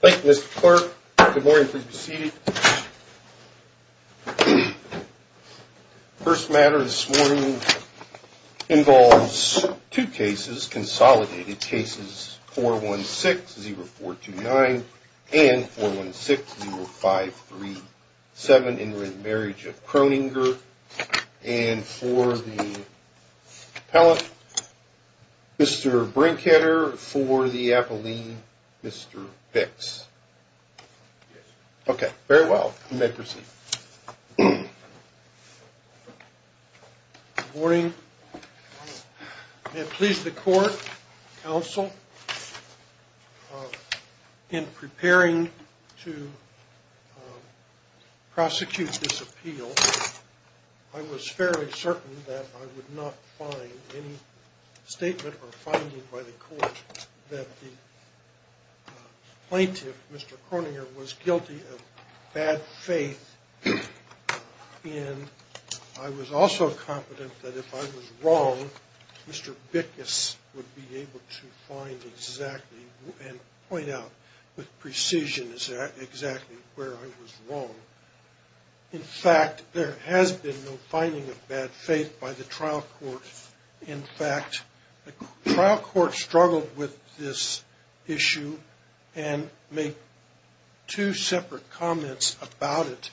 Thank you, Mr. Clark. Good morning. Please be seated. First matter this morning involves two cases, consolidated cases 416-0429 and 416-0537 in re Marriage of Croninger. And for the appellant, Mr. Brinkheader. For the appellee, Mr. Bix. Okay, very well. You may proceed. Good morning. May it please the court, counsel, in preparing to prosecute this appeal, I was fairly certain that I would not find any statement or finding by the court that the plaintiff, Mr. Croninger, was guilty of bad faith. And I was also confident that if I was wrong, Mr. Bix would be able to find exactly and point out with precision exactly where I was wrong. In fact, there has been no finding of bad faith by the trial court. In fact, the trial court struggled with this issue and made two separate comments about it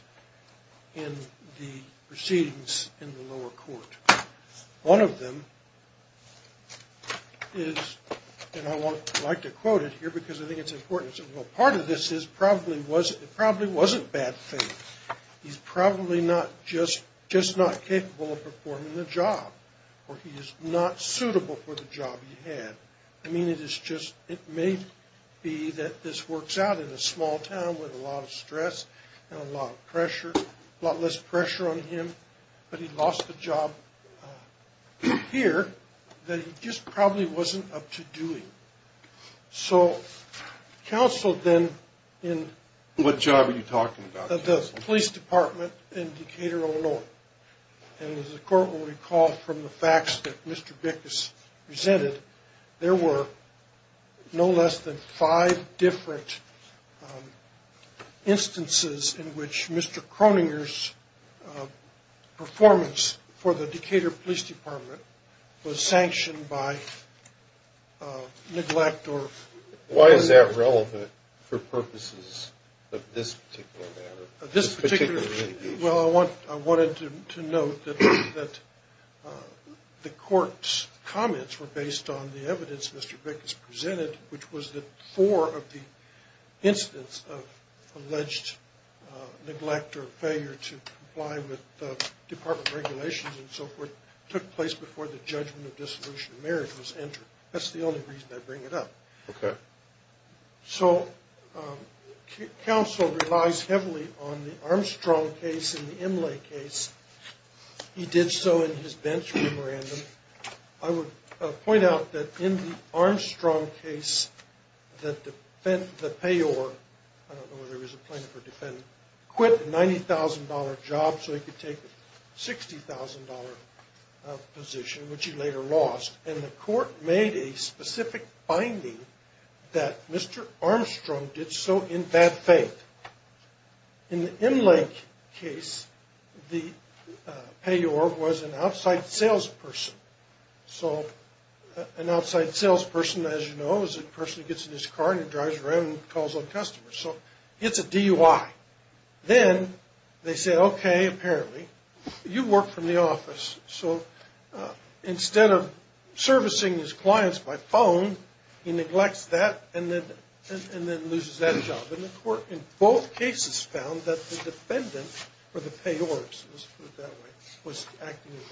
in the proceedings in the lower court. One of them is, and I'd like to quote it here because I think it's important, part of this is it probably wasn't bad faith. He's probably just not capable of performing the job or he is not suitable for the job he had. I mean, it is just, it may be that this works out in a small town with a lot of stress and a lot of pressure, a lot less pressure on him, but he lost the job here that he just probably wasn't up to doing. What job are you talking about? The police department in Decatur, Illinois. And as the court will recall from the facts that Mr. Bix presented, there were no less than five different instances in which Mr. Croninger's performance for the Decatur police department was sanctioned by neglect, Why is that relevant for purposes of this particular matter? Well, I wanted to note that the court's comments were based on the evidence Mr. Bix presented, which was that four of the instances of alleged neglect or failure to comply with department regulations and so forth took place before the judgment of dissolution of marriage was entered. That's the only reason I bring it up. So counsel relies heavily on the Armstrong case and the Imlay case. He did so in his bench memorandum. I would point out that in the Armstrong case that the payor, I don't know whether he was a plaintiff or defendant, quit a $90,000 job so he could take a $60,000 position, which he later lost. And the court made a specific finding that Mr. Armstrong did so in bad faith. In the Imlay case, the payor was an outside salesperson. So an outside salesperson, as you know, is a person who gets in his car and drives around and calls up customers. So it's a DUI. Then they say, okay, apparently you work from the office. So instead of servicing his clients by phone, he neglects that and then loses that job. And the court in both cases found that the defendant, or the payor, let's put it that way, was acting in bad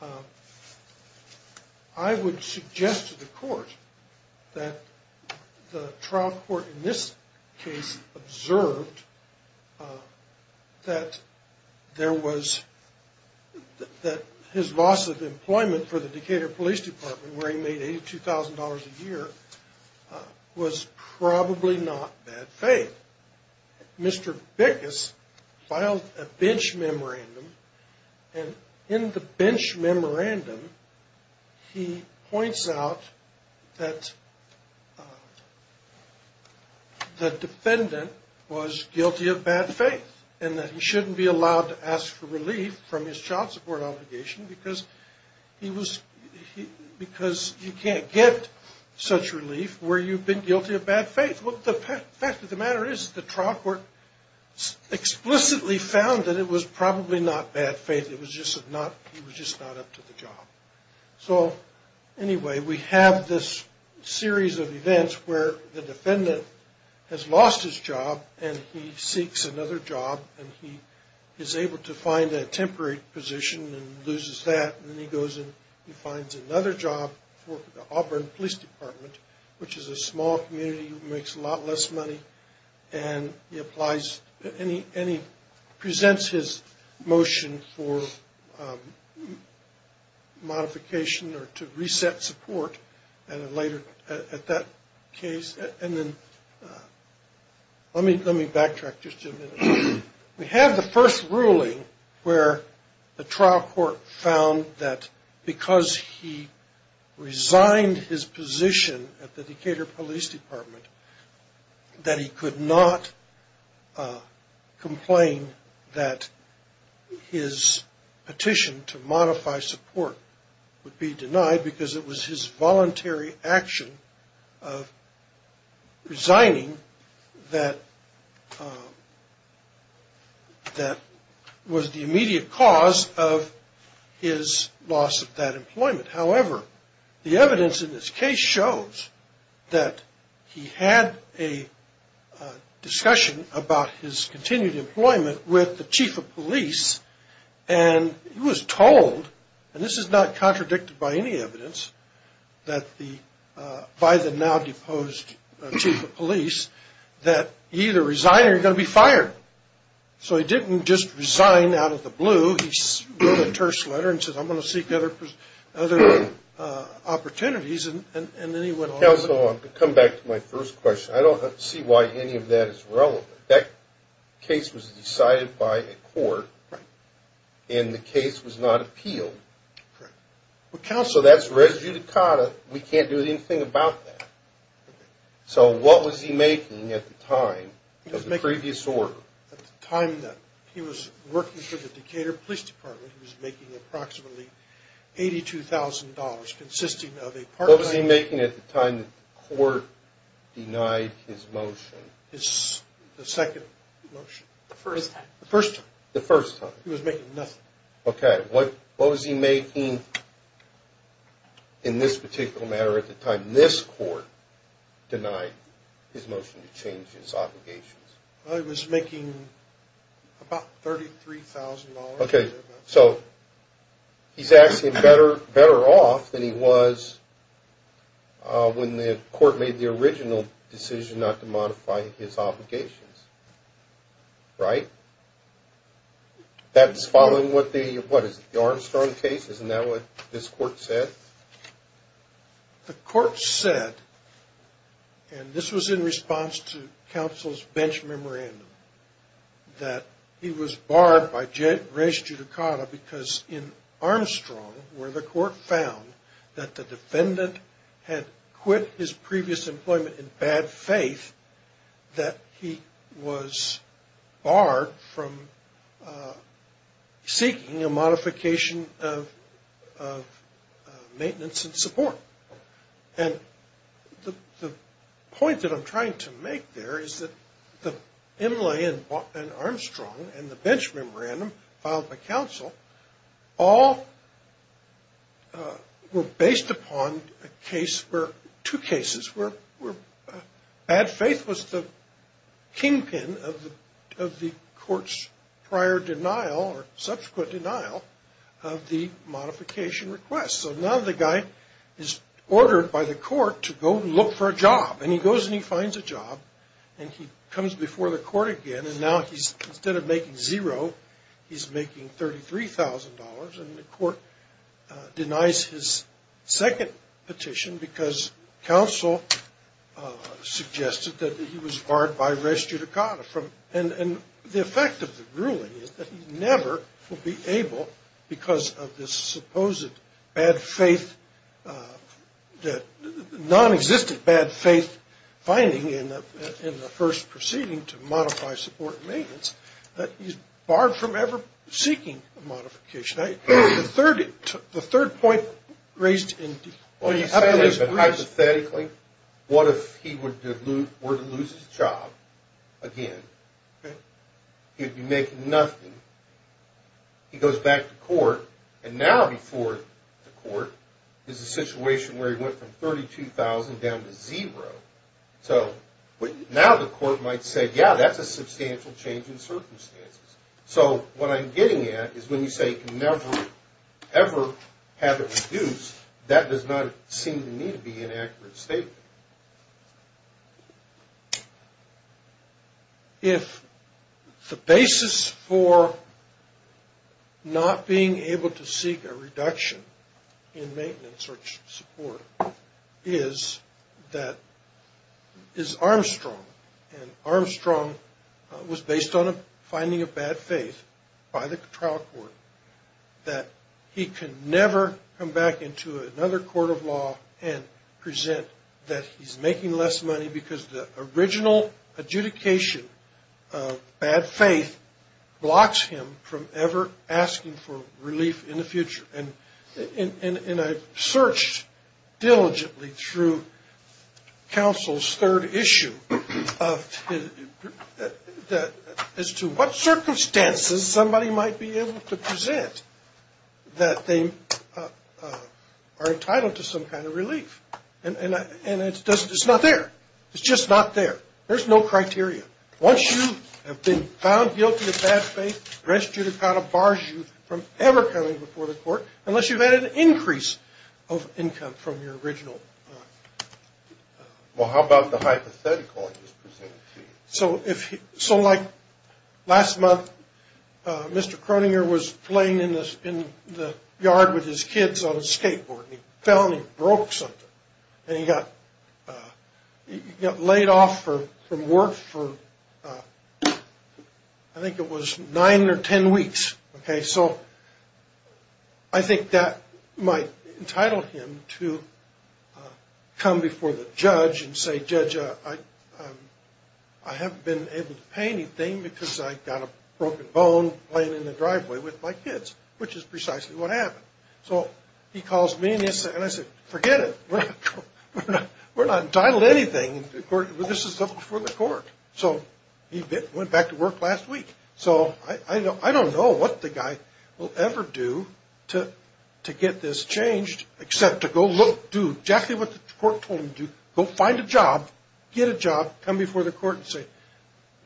faith. I would suggest to the court that the trial court in this case observed that there was, that his loss of employment for the Decatur Police Department where he made $82,000 a year was probably not bad faith. Mr. Bickus filed a bench memorandum. And in the bench memorandum, he points out that the defendant was guilty of bad faith and that he shouldn't be allowed to ask for relief from his child support obligation because he was, because you can't get such relief where you've been guilty of bad faith. Well, the fact of the matter is the trial court explicitly found that it was probably not bad faith. It was just not, he was just not up to the job. So anyway, we have this series of events where the defendant has lost his job and he seeks another job and he is able to find a temporary position and loses that. And then he goes and he finds another job for the Auburn Police Department, which is a small community that makes a lot less money. And he applies, and he presents his motion for modification or to reset support later at that case. And then, let me backtrack just a minute. We have the first ruling where the trial court found that because he resigned his position at the Decatur Police Department, that he could not complain that his petition to modify support would be denied because it was his voluntary action of resigning that was the immediate cause of his loss of that employment. However, the evidence in this case shows that he had a discussion about his continued employment with the chief of police and he was told, and this is not contradicted by any evidence, that by the now-deposed chief of police, that either resign or you're going to be fired. So he didn't just resign out of the blue. He wrote a terse letter and said, I'm going to seek other opportunities and then he went on. Well, counsel, I'm going to come back to my first question. I don't see why any of that is relevant. That case was decided by a court and the case was not appealed. So that's res judicata. We can't do anything about that. So what was he making at the time of the previous order? At the time that he was working for the Decatur Police Department, he was making approximately $82,000. What was he making at the time the court denied his motion? His second motion. The first time. The first time. He was making nothing. Okay. What was he making in this particular matter at the time this court denied his motion to change his obligations? He was making about $33,000. Okay. So he's asking better off than he was when the court made the original decision not to modify his obligations. Right? That's following what the, what is it, the Armstrong case? Isn't that what this court said? The court said, and this was in response to counsel's bench memorandum, that he was barred by res judicata because in Armstrong where the court found that the defendant had quit his previous employment in bad faith that he was barred from seeking a modification of his obligation, maintenance and support. And the point that I'm trying to make there is that the MLA and Armstrong and the bench memorandum filed by counsel all were based upon two cases where bad faith was the kingpin of the court's prior denial or subsequent denial of the modification request. So now the guy is ordered by the court to go look for a job and he goes and he finds a job and he comes before the court again and now instead of making zero he's making $33,000 and the court denies his second petition because counsel suggested that he was barred by res judicata. And the effect of the ruling is that he never will be able because of this supposed non-existent bad faith finding in the first proceeding to modify support and maintenance that he's barred from ever seeking a modification. The third point raised in the second is hypothetically what if he were to lose his job again? He'd be making nothing. He goes back to court and now before the court is a situation where he went from $32,000 down to zero. So now the court might say, yeah, that's a substantial change in circumstances. So what I'm getting at is when you say he can never ever have it reduced, that does not seem to me to be an accurate statement. If the basis for not being able to seek a reduction in maintenance or support is Armstrong and Armstrong was based on finding a bad faith by the trial court that he can never come back into another court of law and present that he's a bad faith person. That he's making less money because the original adjudication of bad faith blocks him from ever asking for relief in the future. And I've searched diligently through counsel's third issue as to what circumstances somebody might be able to present that they are entitled to some kind of relief. And it's not there. It's just not there. There's no criteria. Once you have been found guilty of bad faith, restitution kind of bars you from ever coming before the court unless you've had an increase of income from your original. Well, how about the hypothetical? So he calls me and I say, forget it. We're not entitled to anything. This is up before the court. So he went back to work last week. So I don't know what the guy will ever do to get this changed except to go look. Do exactly what the court told him to do. Go find a job. Get a job. Come before the court and say,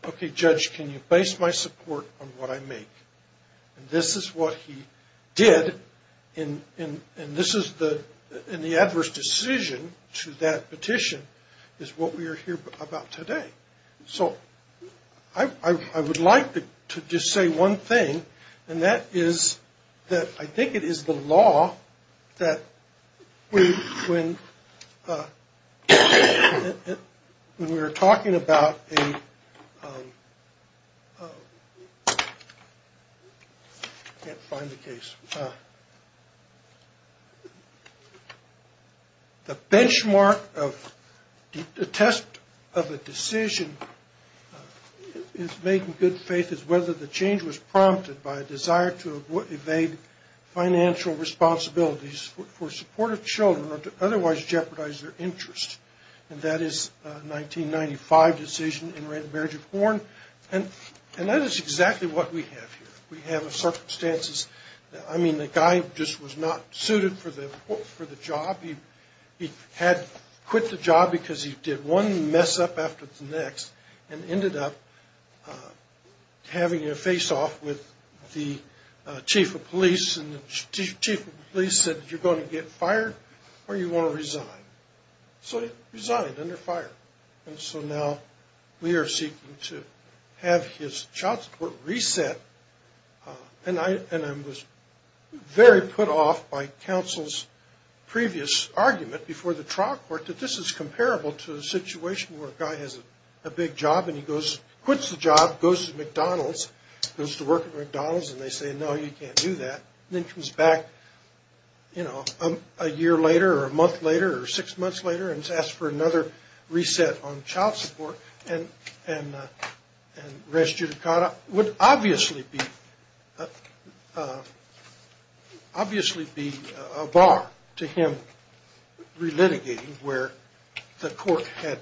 okay, judge, can you base my support on what I make? And this is what he did. And the adverse decision to that petition is what we are here about today. So I would like to just say one thing. And that is that I think it is the law that when we were talking about the benchmark of the test of a decision is making good faith is whether the change was prompted. And that is exactly what we have here. We have circumstances. I mean, the guy just was not suited for the job. He had quit the job because he did one mess up after the next. And ended up having to face off with the chief of police. And the chief of police said, you're going to get fired or you want to resign. So he resigned under fire. And so now we are seeking to have his child support reset. And I was very put off by counsel's previous argument before the trial court that this is comparable to a situation where a guy has a big job and he quits the job, goes to McDonald's, goes to work at McDonald's and they say, no, you can't do that. And then comes back a year later or a month later or six months later and asks for another reset on child support and res judicata would obviously be a bar to him relitigating where the court had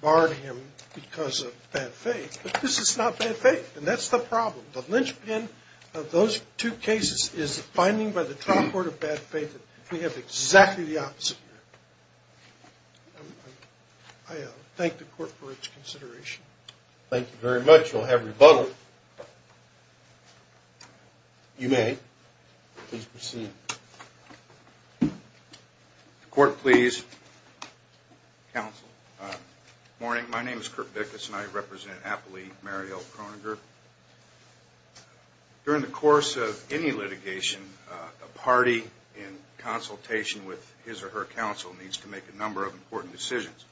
barred him because of bad faith. But this is not bad faith. And that's the problem. The linchpin of those two cases is the finding by the trial court of bad faith. We have exactly the opposite here. I thank the court for its consideration. Thank you very much. You'll have rebuttal. You may please proceed. Court, please. Counsel. Good morning. My name is Kurt Bickus and I represent Appley Mariel Kroeninger. During the course of any litigation, a party in consultation with his or her counsel needs to make a number of important decisions.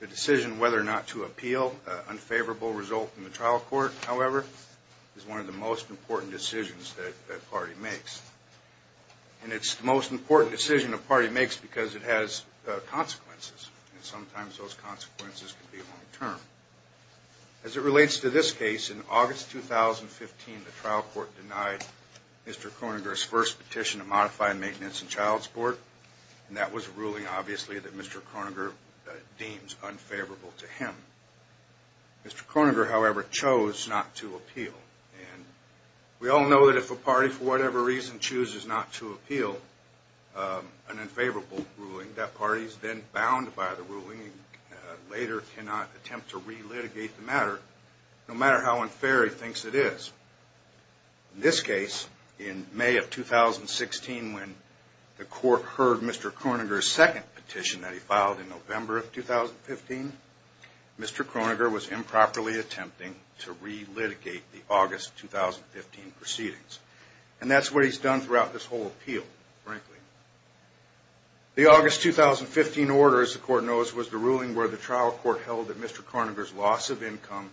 The decision whether or not to appeal, an unfavorable result in the trial court, however, is one of the most important decisions that a party makes. And it's the most important decision a party makes because it has consequences and sometimes those consequences can be long term. As it relates to this case, in August 2015, the trial court denied Mr. Kroeninger's first petition to modify maintenance and child support. And that was a ruling, obviously, that Mr. Kroeninger deems unfavorable to him. Mr. Kroeninger, however, chose not to appeal. And we all know that if a party, for whatever reason, chooses not to appeal an unfavorable ruling, that party is then bound by the ruling and later cannot attempt to relitigate the matter, no matter how unfair he thinks it is. In this case, in May of 2016, when the court heard Mr. Kroeninger's second petition that he filed in November of 2015, Mr. Kroeninger was improperly attempting to relitigate the August 2015 proceedings. And that's what he's done throughout this whole appeal, frankly. The August 2015 order, as the court knows, was the ruling where the trial court held that Mr. Kroeninger's loss of income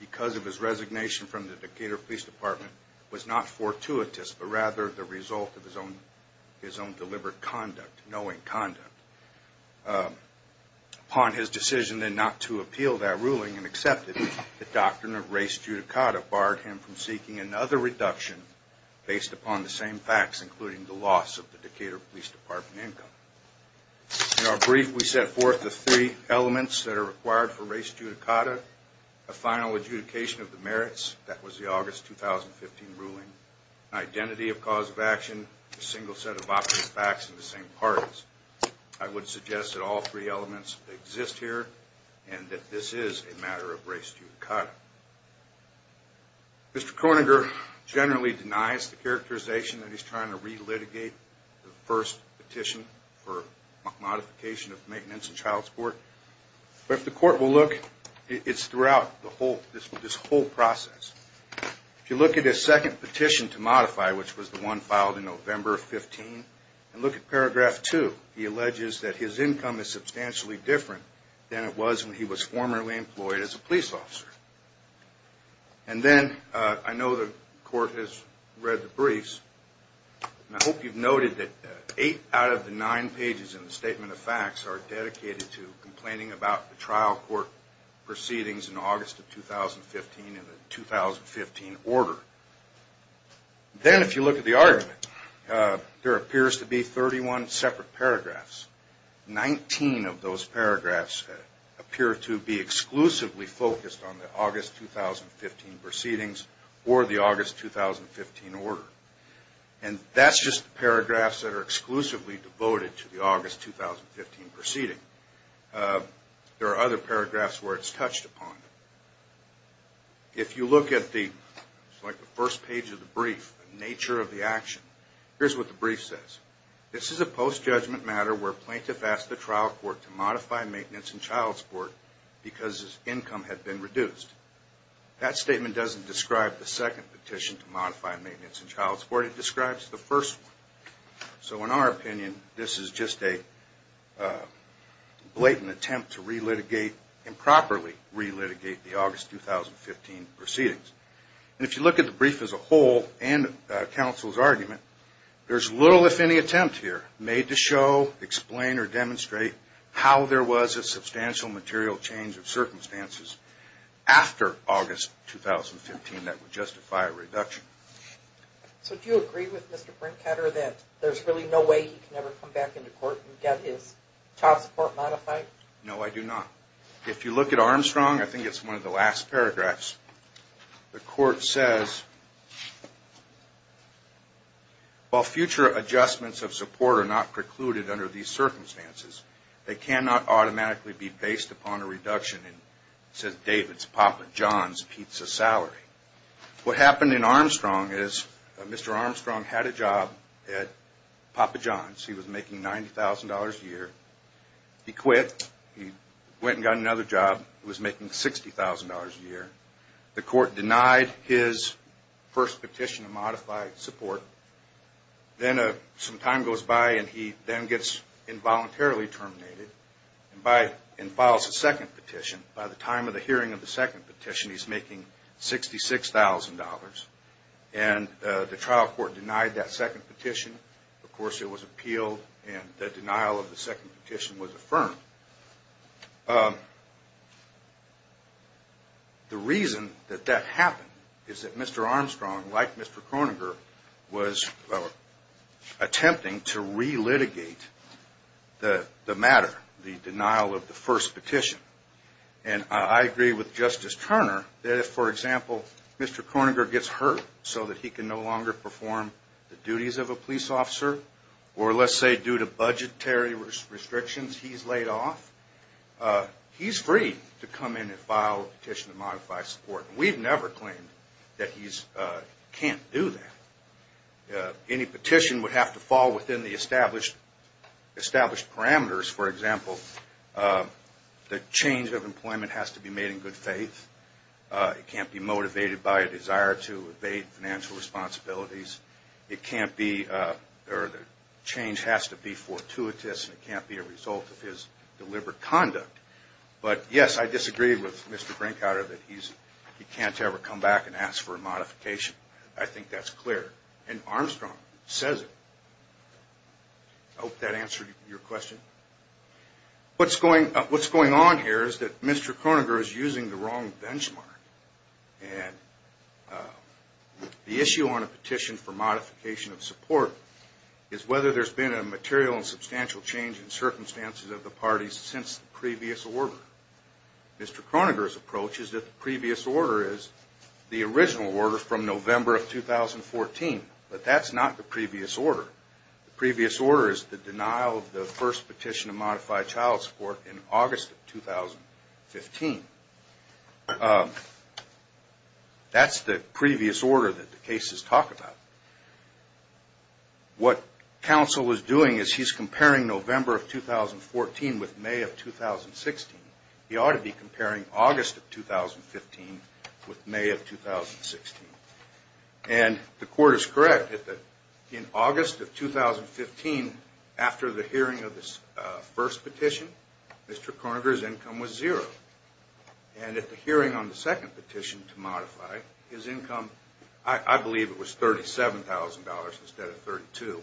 because of his resignation from the Decatur Police Department was not fortuitous, but rather the result of his own deliberate conduct, knowing conduct. Upon his decision then not to appeal that ruling and accepted it, the doctrine of res judicata barred him from seeking another reduction based upon the same facts, including the loss of the Decatur Police Department income. In our brief, we set forth the three elements that are required for res judicata. A final adjudication of the merits, that was the August 2015 ruling. Identity of cause of action, a single set of opposite facts in the same parties. I would suggest that all three elements exist here and that this is a matter of res judicata. Mr. Kroeninger generally denies the characterization that he's trying to relitigate the first petition for modification of maintenance and child support. But if the court will look, it's throughout this whole process. If you look at his second petition to modify, which was the one filed in November of 15, and look at paragraph 2, he alleges that his income is substantially different than it was when he was formerly employed as a police officer. And then, I know the court has read the briefs, and I hope you've noted that eight out of the nine pages in the Statement of Facts are dedicated to complaining about the trial court proceedings in August of 2015 and the 2015 order. Then, if you look at the argument, there appears to be 31 separate paragraphs. Nineteen of those paragraphs appear to be exclusively focused on the August 2015 proceedings or the August 2015 order. And that's just the paragraphs that are exclusively devoted to the August 2015 proceeding. There are other paragraphs where it's touched upon. If you look at the first page of the brief, the nature of the action, here's what the brief says. This is a post-judgment matter where plaintiff asked the trial court to modify maintenance and child support because his income had been reduced. That statement doesn't describe the second petition to modify maintenance and child support. It describes the first one. So, in our opinion, this is just a blatant attempt to re-litigate, improperly re-litigate the August 2015 proceedings. And if you look at the brief as a whole and counsel's argument, there's little, if any, attempt here made to show, explain, or demonstrate how there was a substantial material change of circumstances after August 2015 that would justify a reduction. So, do you agree with Mr. Brinkheader that there's really no way he can ever come back into court and get his child support modified? No, I do not. If you look at Armstrong, I think it's one of the last paragraphs, the court says, While future adjustments of support are not precluded under these circumstances, they cannot automatically be based upon a reduction in, it says, David's, Papa John's pizza salary. What happened in Armstrong is Mr. Armstrong had a job at Papa John's. He was making $90,000 a year. He quit. He went and got another job. He was making $60,000 a year. The court denied his first petition to modify support. Then some time goes by and he then gets involuntarily terminated and files a second petition. By the time of the hearing of the second petition, he's making $66,000. And the trial court denied that second petition. Of course, it was appealed and the denial of the second petition was affirmed. The reason that that happened is that Mr. Armstrong, like Mr. Kroeninger, was attempting to re-litigate the matter, the denial of the first petition. And I agree with Justice Turner that if, for example, Mr. Kroeninger gets hurt so that he can no longer perform the duties of a police officer, or let's say due to budgetary restrictions he's laid off, he's free to come in and file a petition to modify support. We've never claimed that he can't do that. Any petition would have to fall within the established parameters. For example, the change of employment has to be made in good faith. It can't be motivated by a desire to evade financial responsibilities. It can't be, or the change has to be fortuitous and it can't be a result of his deliberate conduct. But yes, I disagree with Mr. Brinkhouder that he can't ever come back and ask for a modification. I think that's clear. And Armstrong says it. I hope that answered your question. What's going on here is that Mr. Kroeninger is using the wrong benchmark. And the issue on a petition for modification of support is whether there's been a material and substantial change in circumstances of the parties since the previous order. Mr. Kroeninger's approach is that the previous order is the original order from November of 2014, but that's not the previous order. The previous order is the denial of the first petition to modify child support in August of 2015. That's the previous order that the cases talk about. What counsel is doing is he's comparing November of 2014 with May of 2016. He ought to be comparing August of 2015 with May of 2016. And the court is correct that in August of 2015, after the hearing of the first petition, Mr. Kroeninger's income was zero. And at the hearing on the second petition to modify, his income, I believe it was $37,000 instead of $32,000.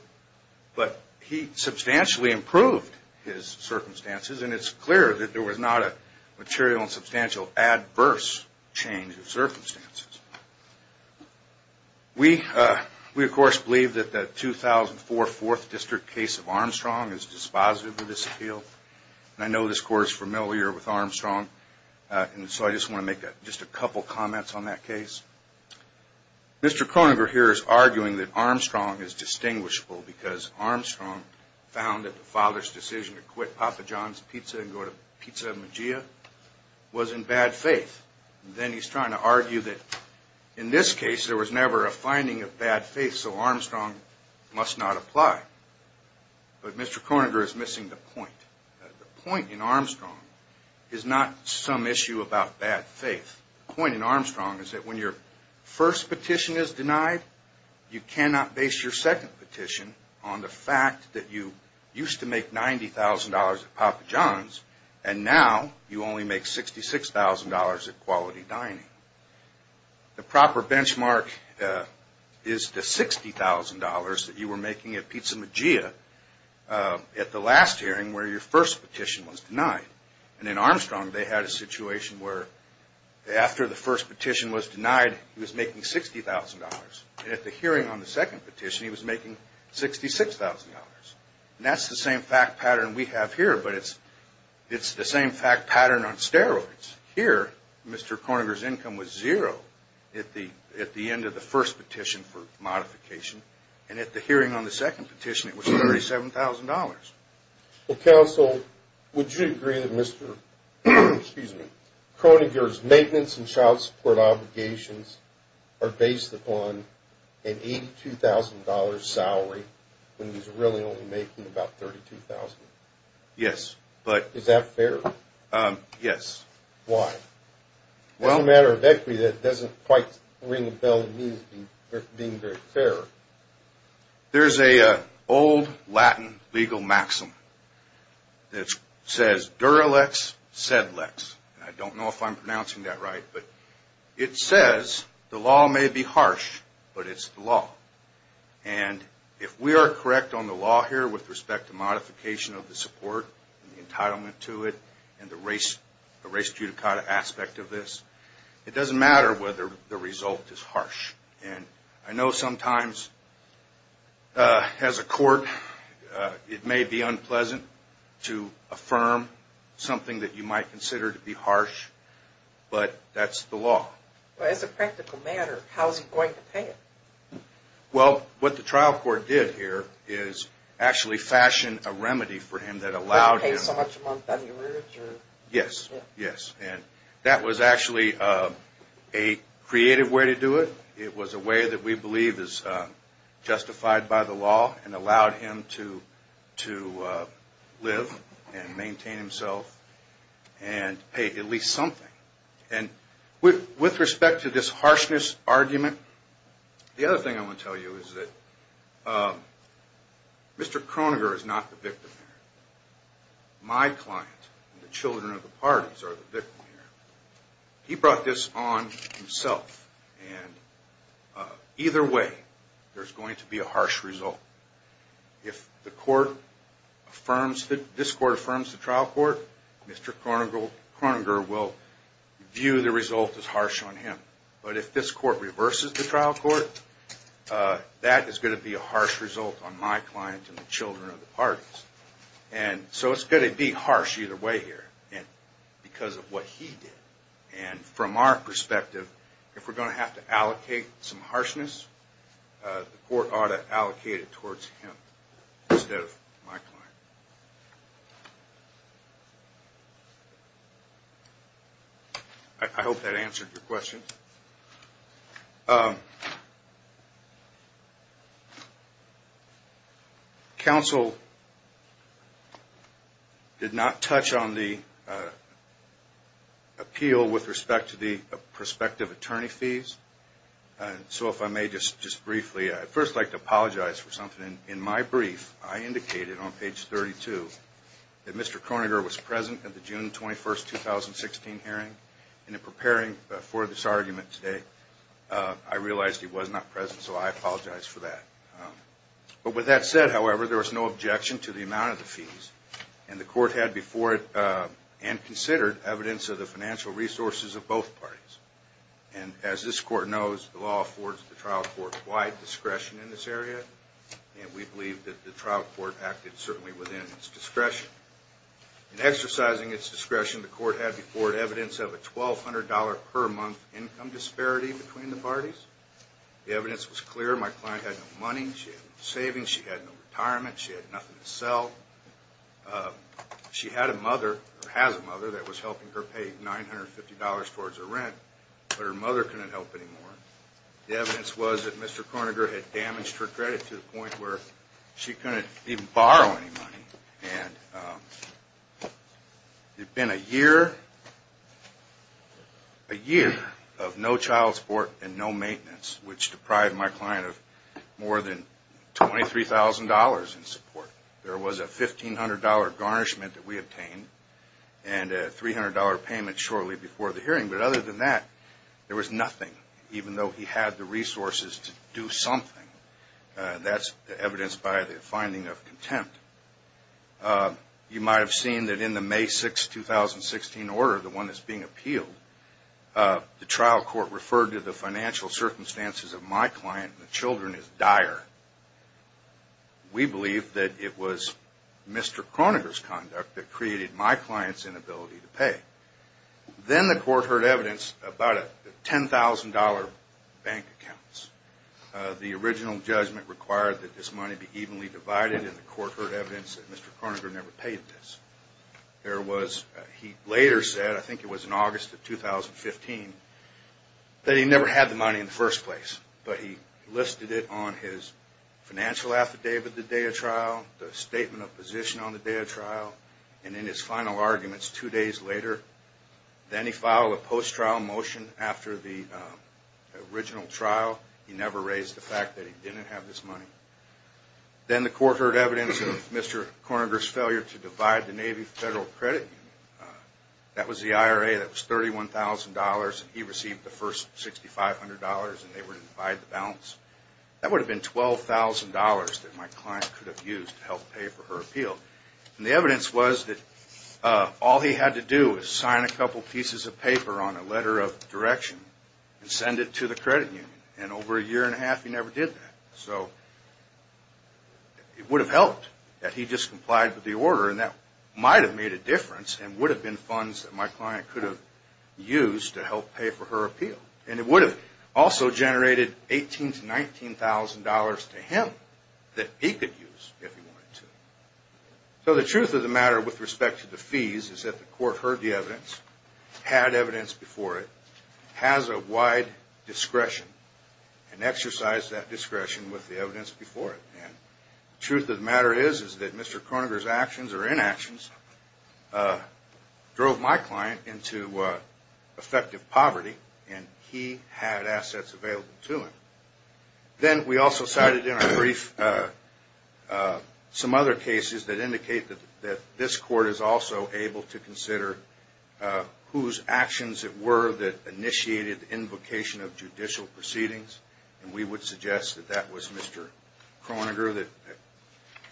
But he substantially improved his circumstances, and it's clear that there was not a material and substantial adverse change of circumstances. We, of course, believe that the 2004 Fourth District case of Armstrong is dispositive of this appeal. And I know this court is familiar with Armstrong, and so I just want to make just a couple comments on that case. Mr. Kroeninger here is arguing that Armstrong is distinguishable because Armstrong found that the father's decision to quit Papa John's Pizza and go to Pizza Maggia was in bad faith. Then he's trying to argue that in this case there was never a finding of bad faith, so Armstrong must not apply. But Mr. Kroeninger is missing the point. The point in Armstrong is not some issue about bad faith. The point in Armstrong is that when your first petition is denied, you cannot base your second petition on the fact that you used to make $90,000 at Papa John's, and now you only make $66,000 at Quality Dining. The proper benchmark is the $60,000 that you were making at Pizza Maggia at the last hearing where your first petition was denied. And in Armstrong, they had a situation where after the first petition was denied, he was making $60,000. And at the hearing on the second petition, he was making $66,000. And that's the same fact pattern we have here, but it's the same fact pattern on steroids. Here, Mr. Kroeninger's income was zero at the end of the first petition for modification, and at the hearing on the second petition it was $37,000. Well, counsel, would you agree that Mr. Kroeninger's maintenance and child support obligations are based upon an $82,000 salary when he's really only making about $32,000? Yes, but... Is that fair? Yes. Why? Well... It's a matter of equity that doesn't quite ring a bell to me as being very fair. There's an old Latin legal maxim that says, dura lex, sed lex. I don't know if I'm pronouncing that right. But it says, the law may be harsh, but it's the law. And if we are correct on the law here with respect to modification of the support, the entitlement to it, and the res judicata aspect of this, it doesn't matter whether the result is harsh. And I know sometimes as a court, it may be unpleasant to affirm something that you might consider to be harsh, but that's not the case. That's the law. Well, as a practical matter, how is he going to pay it? Well, what the trial court did here is actually fashion a remedy for him that allowed him... He wouldn't pay so much a month on your rearage? Yes. And that was actually a creative way to do it. It was a way that we believe is justified by the law and allowed him to live and maintain himself and pay at least something. With respect to this harshness argument, the other thing I want to tell you is that Mr. Kroeninger is not the victim here. My client and the children of the parties are the victim here. He brought this on himself. And either way, there's going to be a harsh result. If the court affirms... If this court affirms the trial court, Mr. Kroeninger will view the result as harsh. But if this court reverses the trial court, that is going to be a harsh result on my client and the children of the parties. And so it's going to be harsh either way here because of what he did. And from our perspective, if we're going to have to allocate some harshness, the court ought to allocate it towards him instead of my client. I hope that answered your question. Counsel did not touch on the appeal with respect to the prospective attorney fees. So if I may just briefly, I'd first like to apologize for something. In my brief, I indicated on page 32 that Mr. Kroeninger was present at the June 21, 2016 hearing. And in preparing for this argument today, I realized he was not present, so I apologize for that. But with that said, however, there was no objection to the amount of the fees. And the court had before it and considered evidence of the financial resources of both parties. And as this court knows, the law affords the trial court wide discretion in this area. And we believe that the trial court acted certainly within its discretion. In exercising its discretion, the court had before it evidence of a $1,200 per month income disparity between the parties. The evidence was clear. My client had no money. She had no savings. She had no retirement. She had nothing to sell. She had a mother, or has a mother, that was helping her pay $950 towards her rent, but her mother couldn't help anymore. The evidence was that Mr. Kroeninger had damaged her credit to the point where she couldn't even borrow any money. And it had been a year of no child support and no maintenance, which deprived my client of more than $23,000 in support. There was a $1,500 garnishment that we obtained and a $300 payment shortly before the hearing. But other than that, there was nothing, even though he had the resources to do something. That's evidenced by the finding of contempt. You might have seen that in the May 6, 2016 order, the one that's being appealed, the trial court referred to the financial circumstances of my client and the children as dire. We believe that it was Mr. Kroeninger's conduct that created my client's inability to pay. Then the court heard evidence about $10,000 bank accounts. The original judgment required that this money be evenly divided, and the court heard evidence that Mr. Kroeninger never paid this. He later said, I think it was in August of 2015, that he never had the money in the first place. But he listed it on his financial affidavit the day of trial, the statement of position on the day of trial, and in his final arguments two days later. Then he filed a post-trial motion after the original trial, and he never raised the fact that he didn't have this money. Then the court heard evidence of Mr. Kroeninger's failure to divide the Navy Federal Credit Union. That was the IRA that was $31,000, and he received the first $6,500, and they were to divide the balance. That would have been $12,000 that my client could have used to help pay for her appeal. And the evidence was that all he had to do was sign a couple pieces of paper on a letter of direction and send it to the credit union, and over a year and a half he never did that. So it would have helped that he just complied with the order, and that might have made a difference and would have been funds that my client could have used to help pay for her appeal. And it would have also generated $18,000 to $19,000 to him that he could use if he wanted to. So the truth of the matter with respect to the fees is that the court heard the evidence, had evidence before it, has a wide discretion, and exercised that discretion with the evidence before it. And the truth of the matter is that Mr. Kroeninger's actions or inactions drove my client into effective poverty, and he had assets available to him. Then we also cited in our brief some other cases that indicate that this court is also able to consider whose actions it were that initiated the invocation of judicial proceedings, and we would suggest that that was Mr. Kroeninger that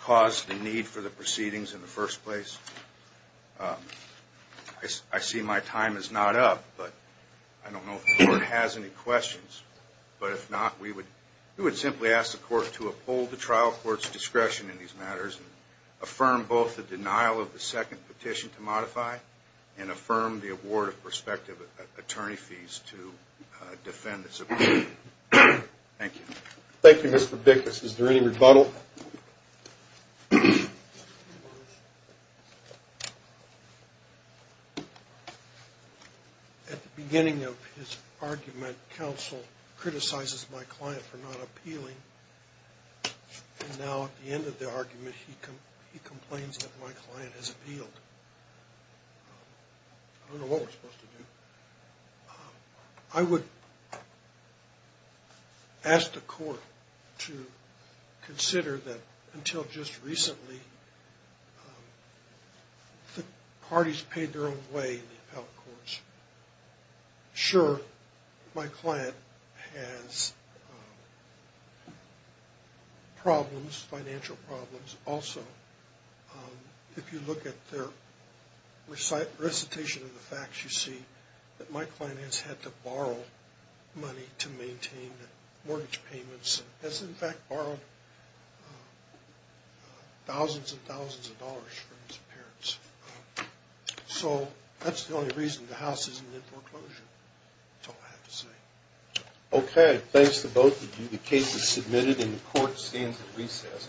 caused the need for the proceedings in the first place. I see my time is not up, but I don't know if the court has any questions. But if not, we would simply ask the court to uphold the trial court's discretion in these matters and affirm both the denial of the second petition to modify and affirm the award of prospective attorney fees to defend this opinion. Thank you. Thank you, Mr. Bickus. Is there any rebuttal? At the beginning of his argument, counsel criticizes my client for not appealing, and now at the end of the argument he complains that my client has appealed. I don't know what we're supposed to do. I would ask the court to consider that until just recently, the parties paid their own way in the appellate courts. Sure, my client has problems, financial problems also. If you look at their recitation of the facts, you see that my client has had to borrow money to maintain mortgage payments and has in fact borrowed thousands and thousands of dollars from his parents. So that's the only reason the house isn't in foreclosure, is all I have to say. Okay, thanks to both of you. The case is submitted and the court stands at recess. Thank you.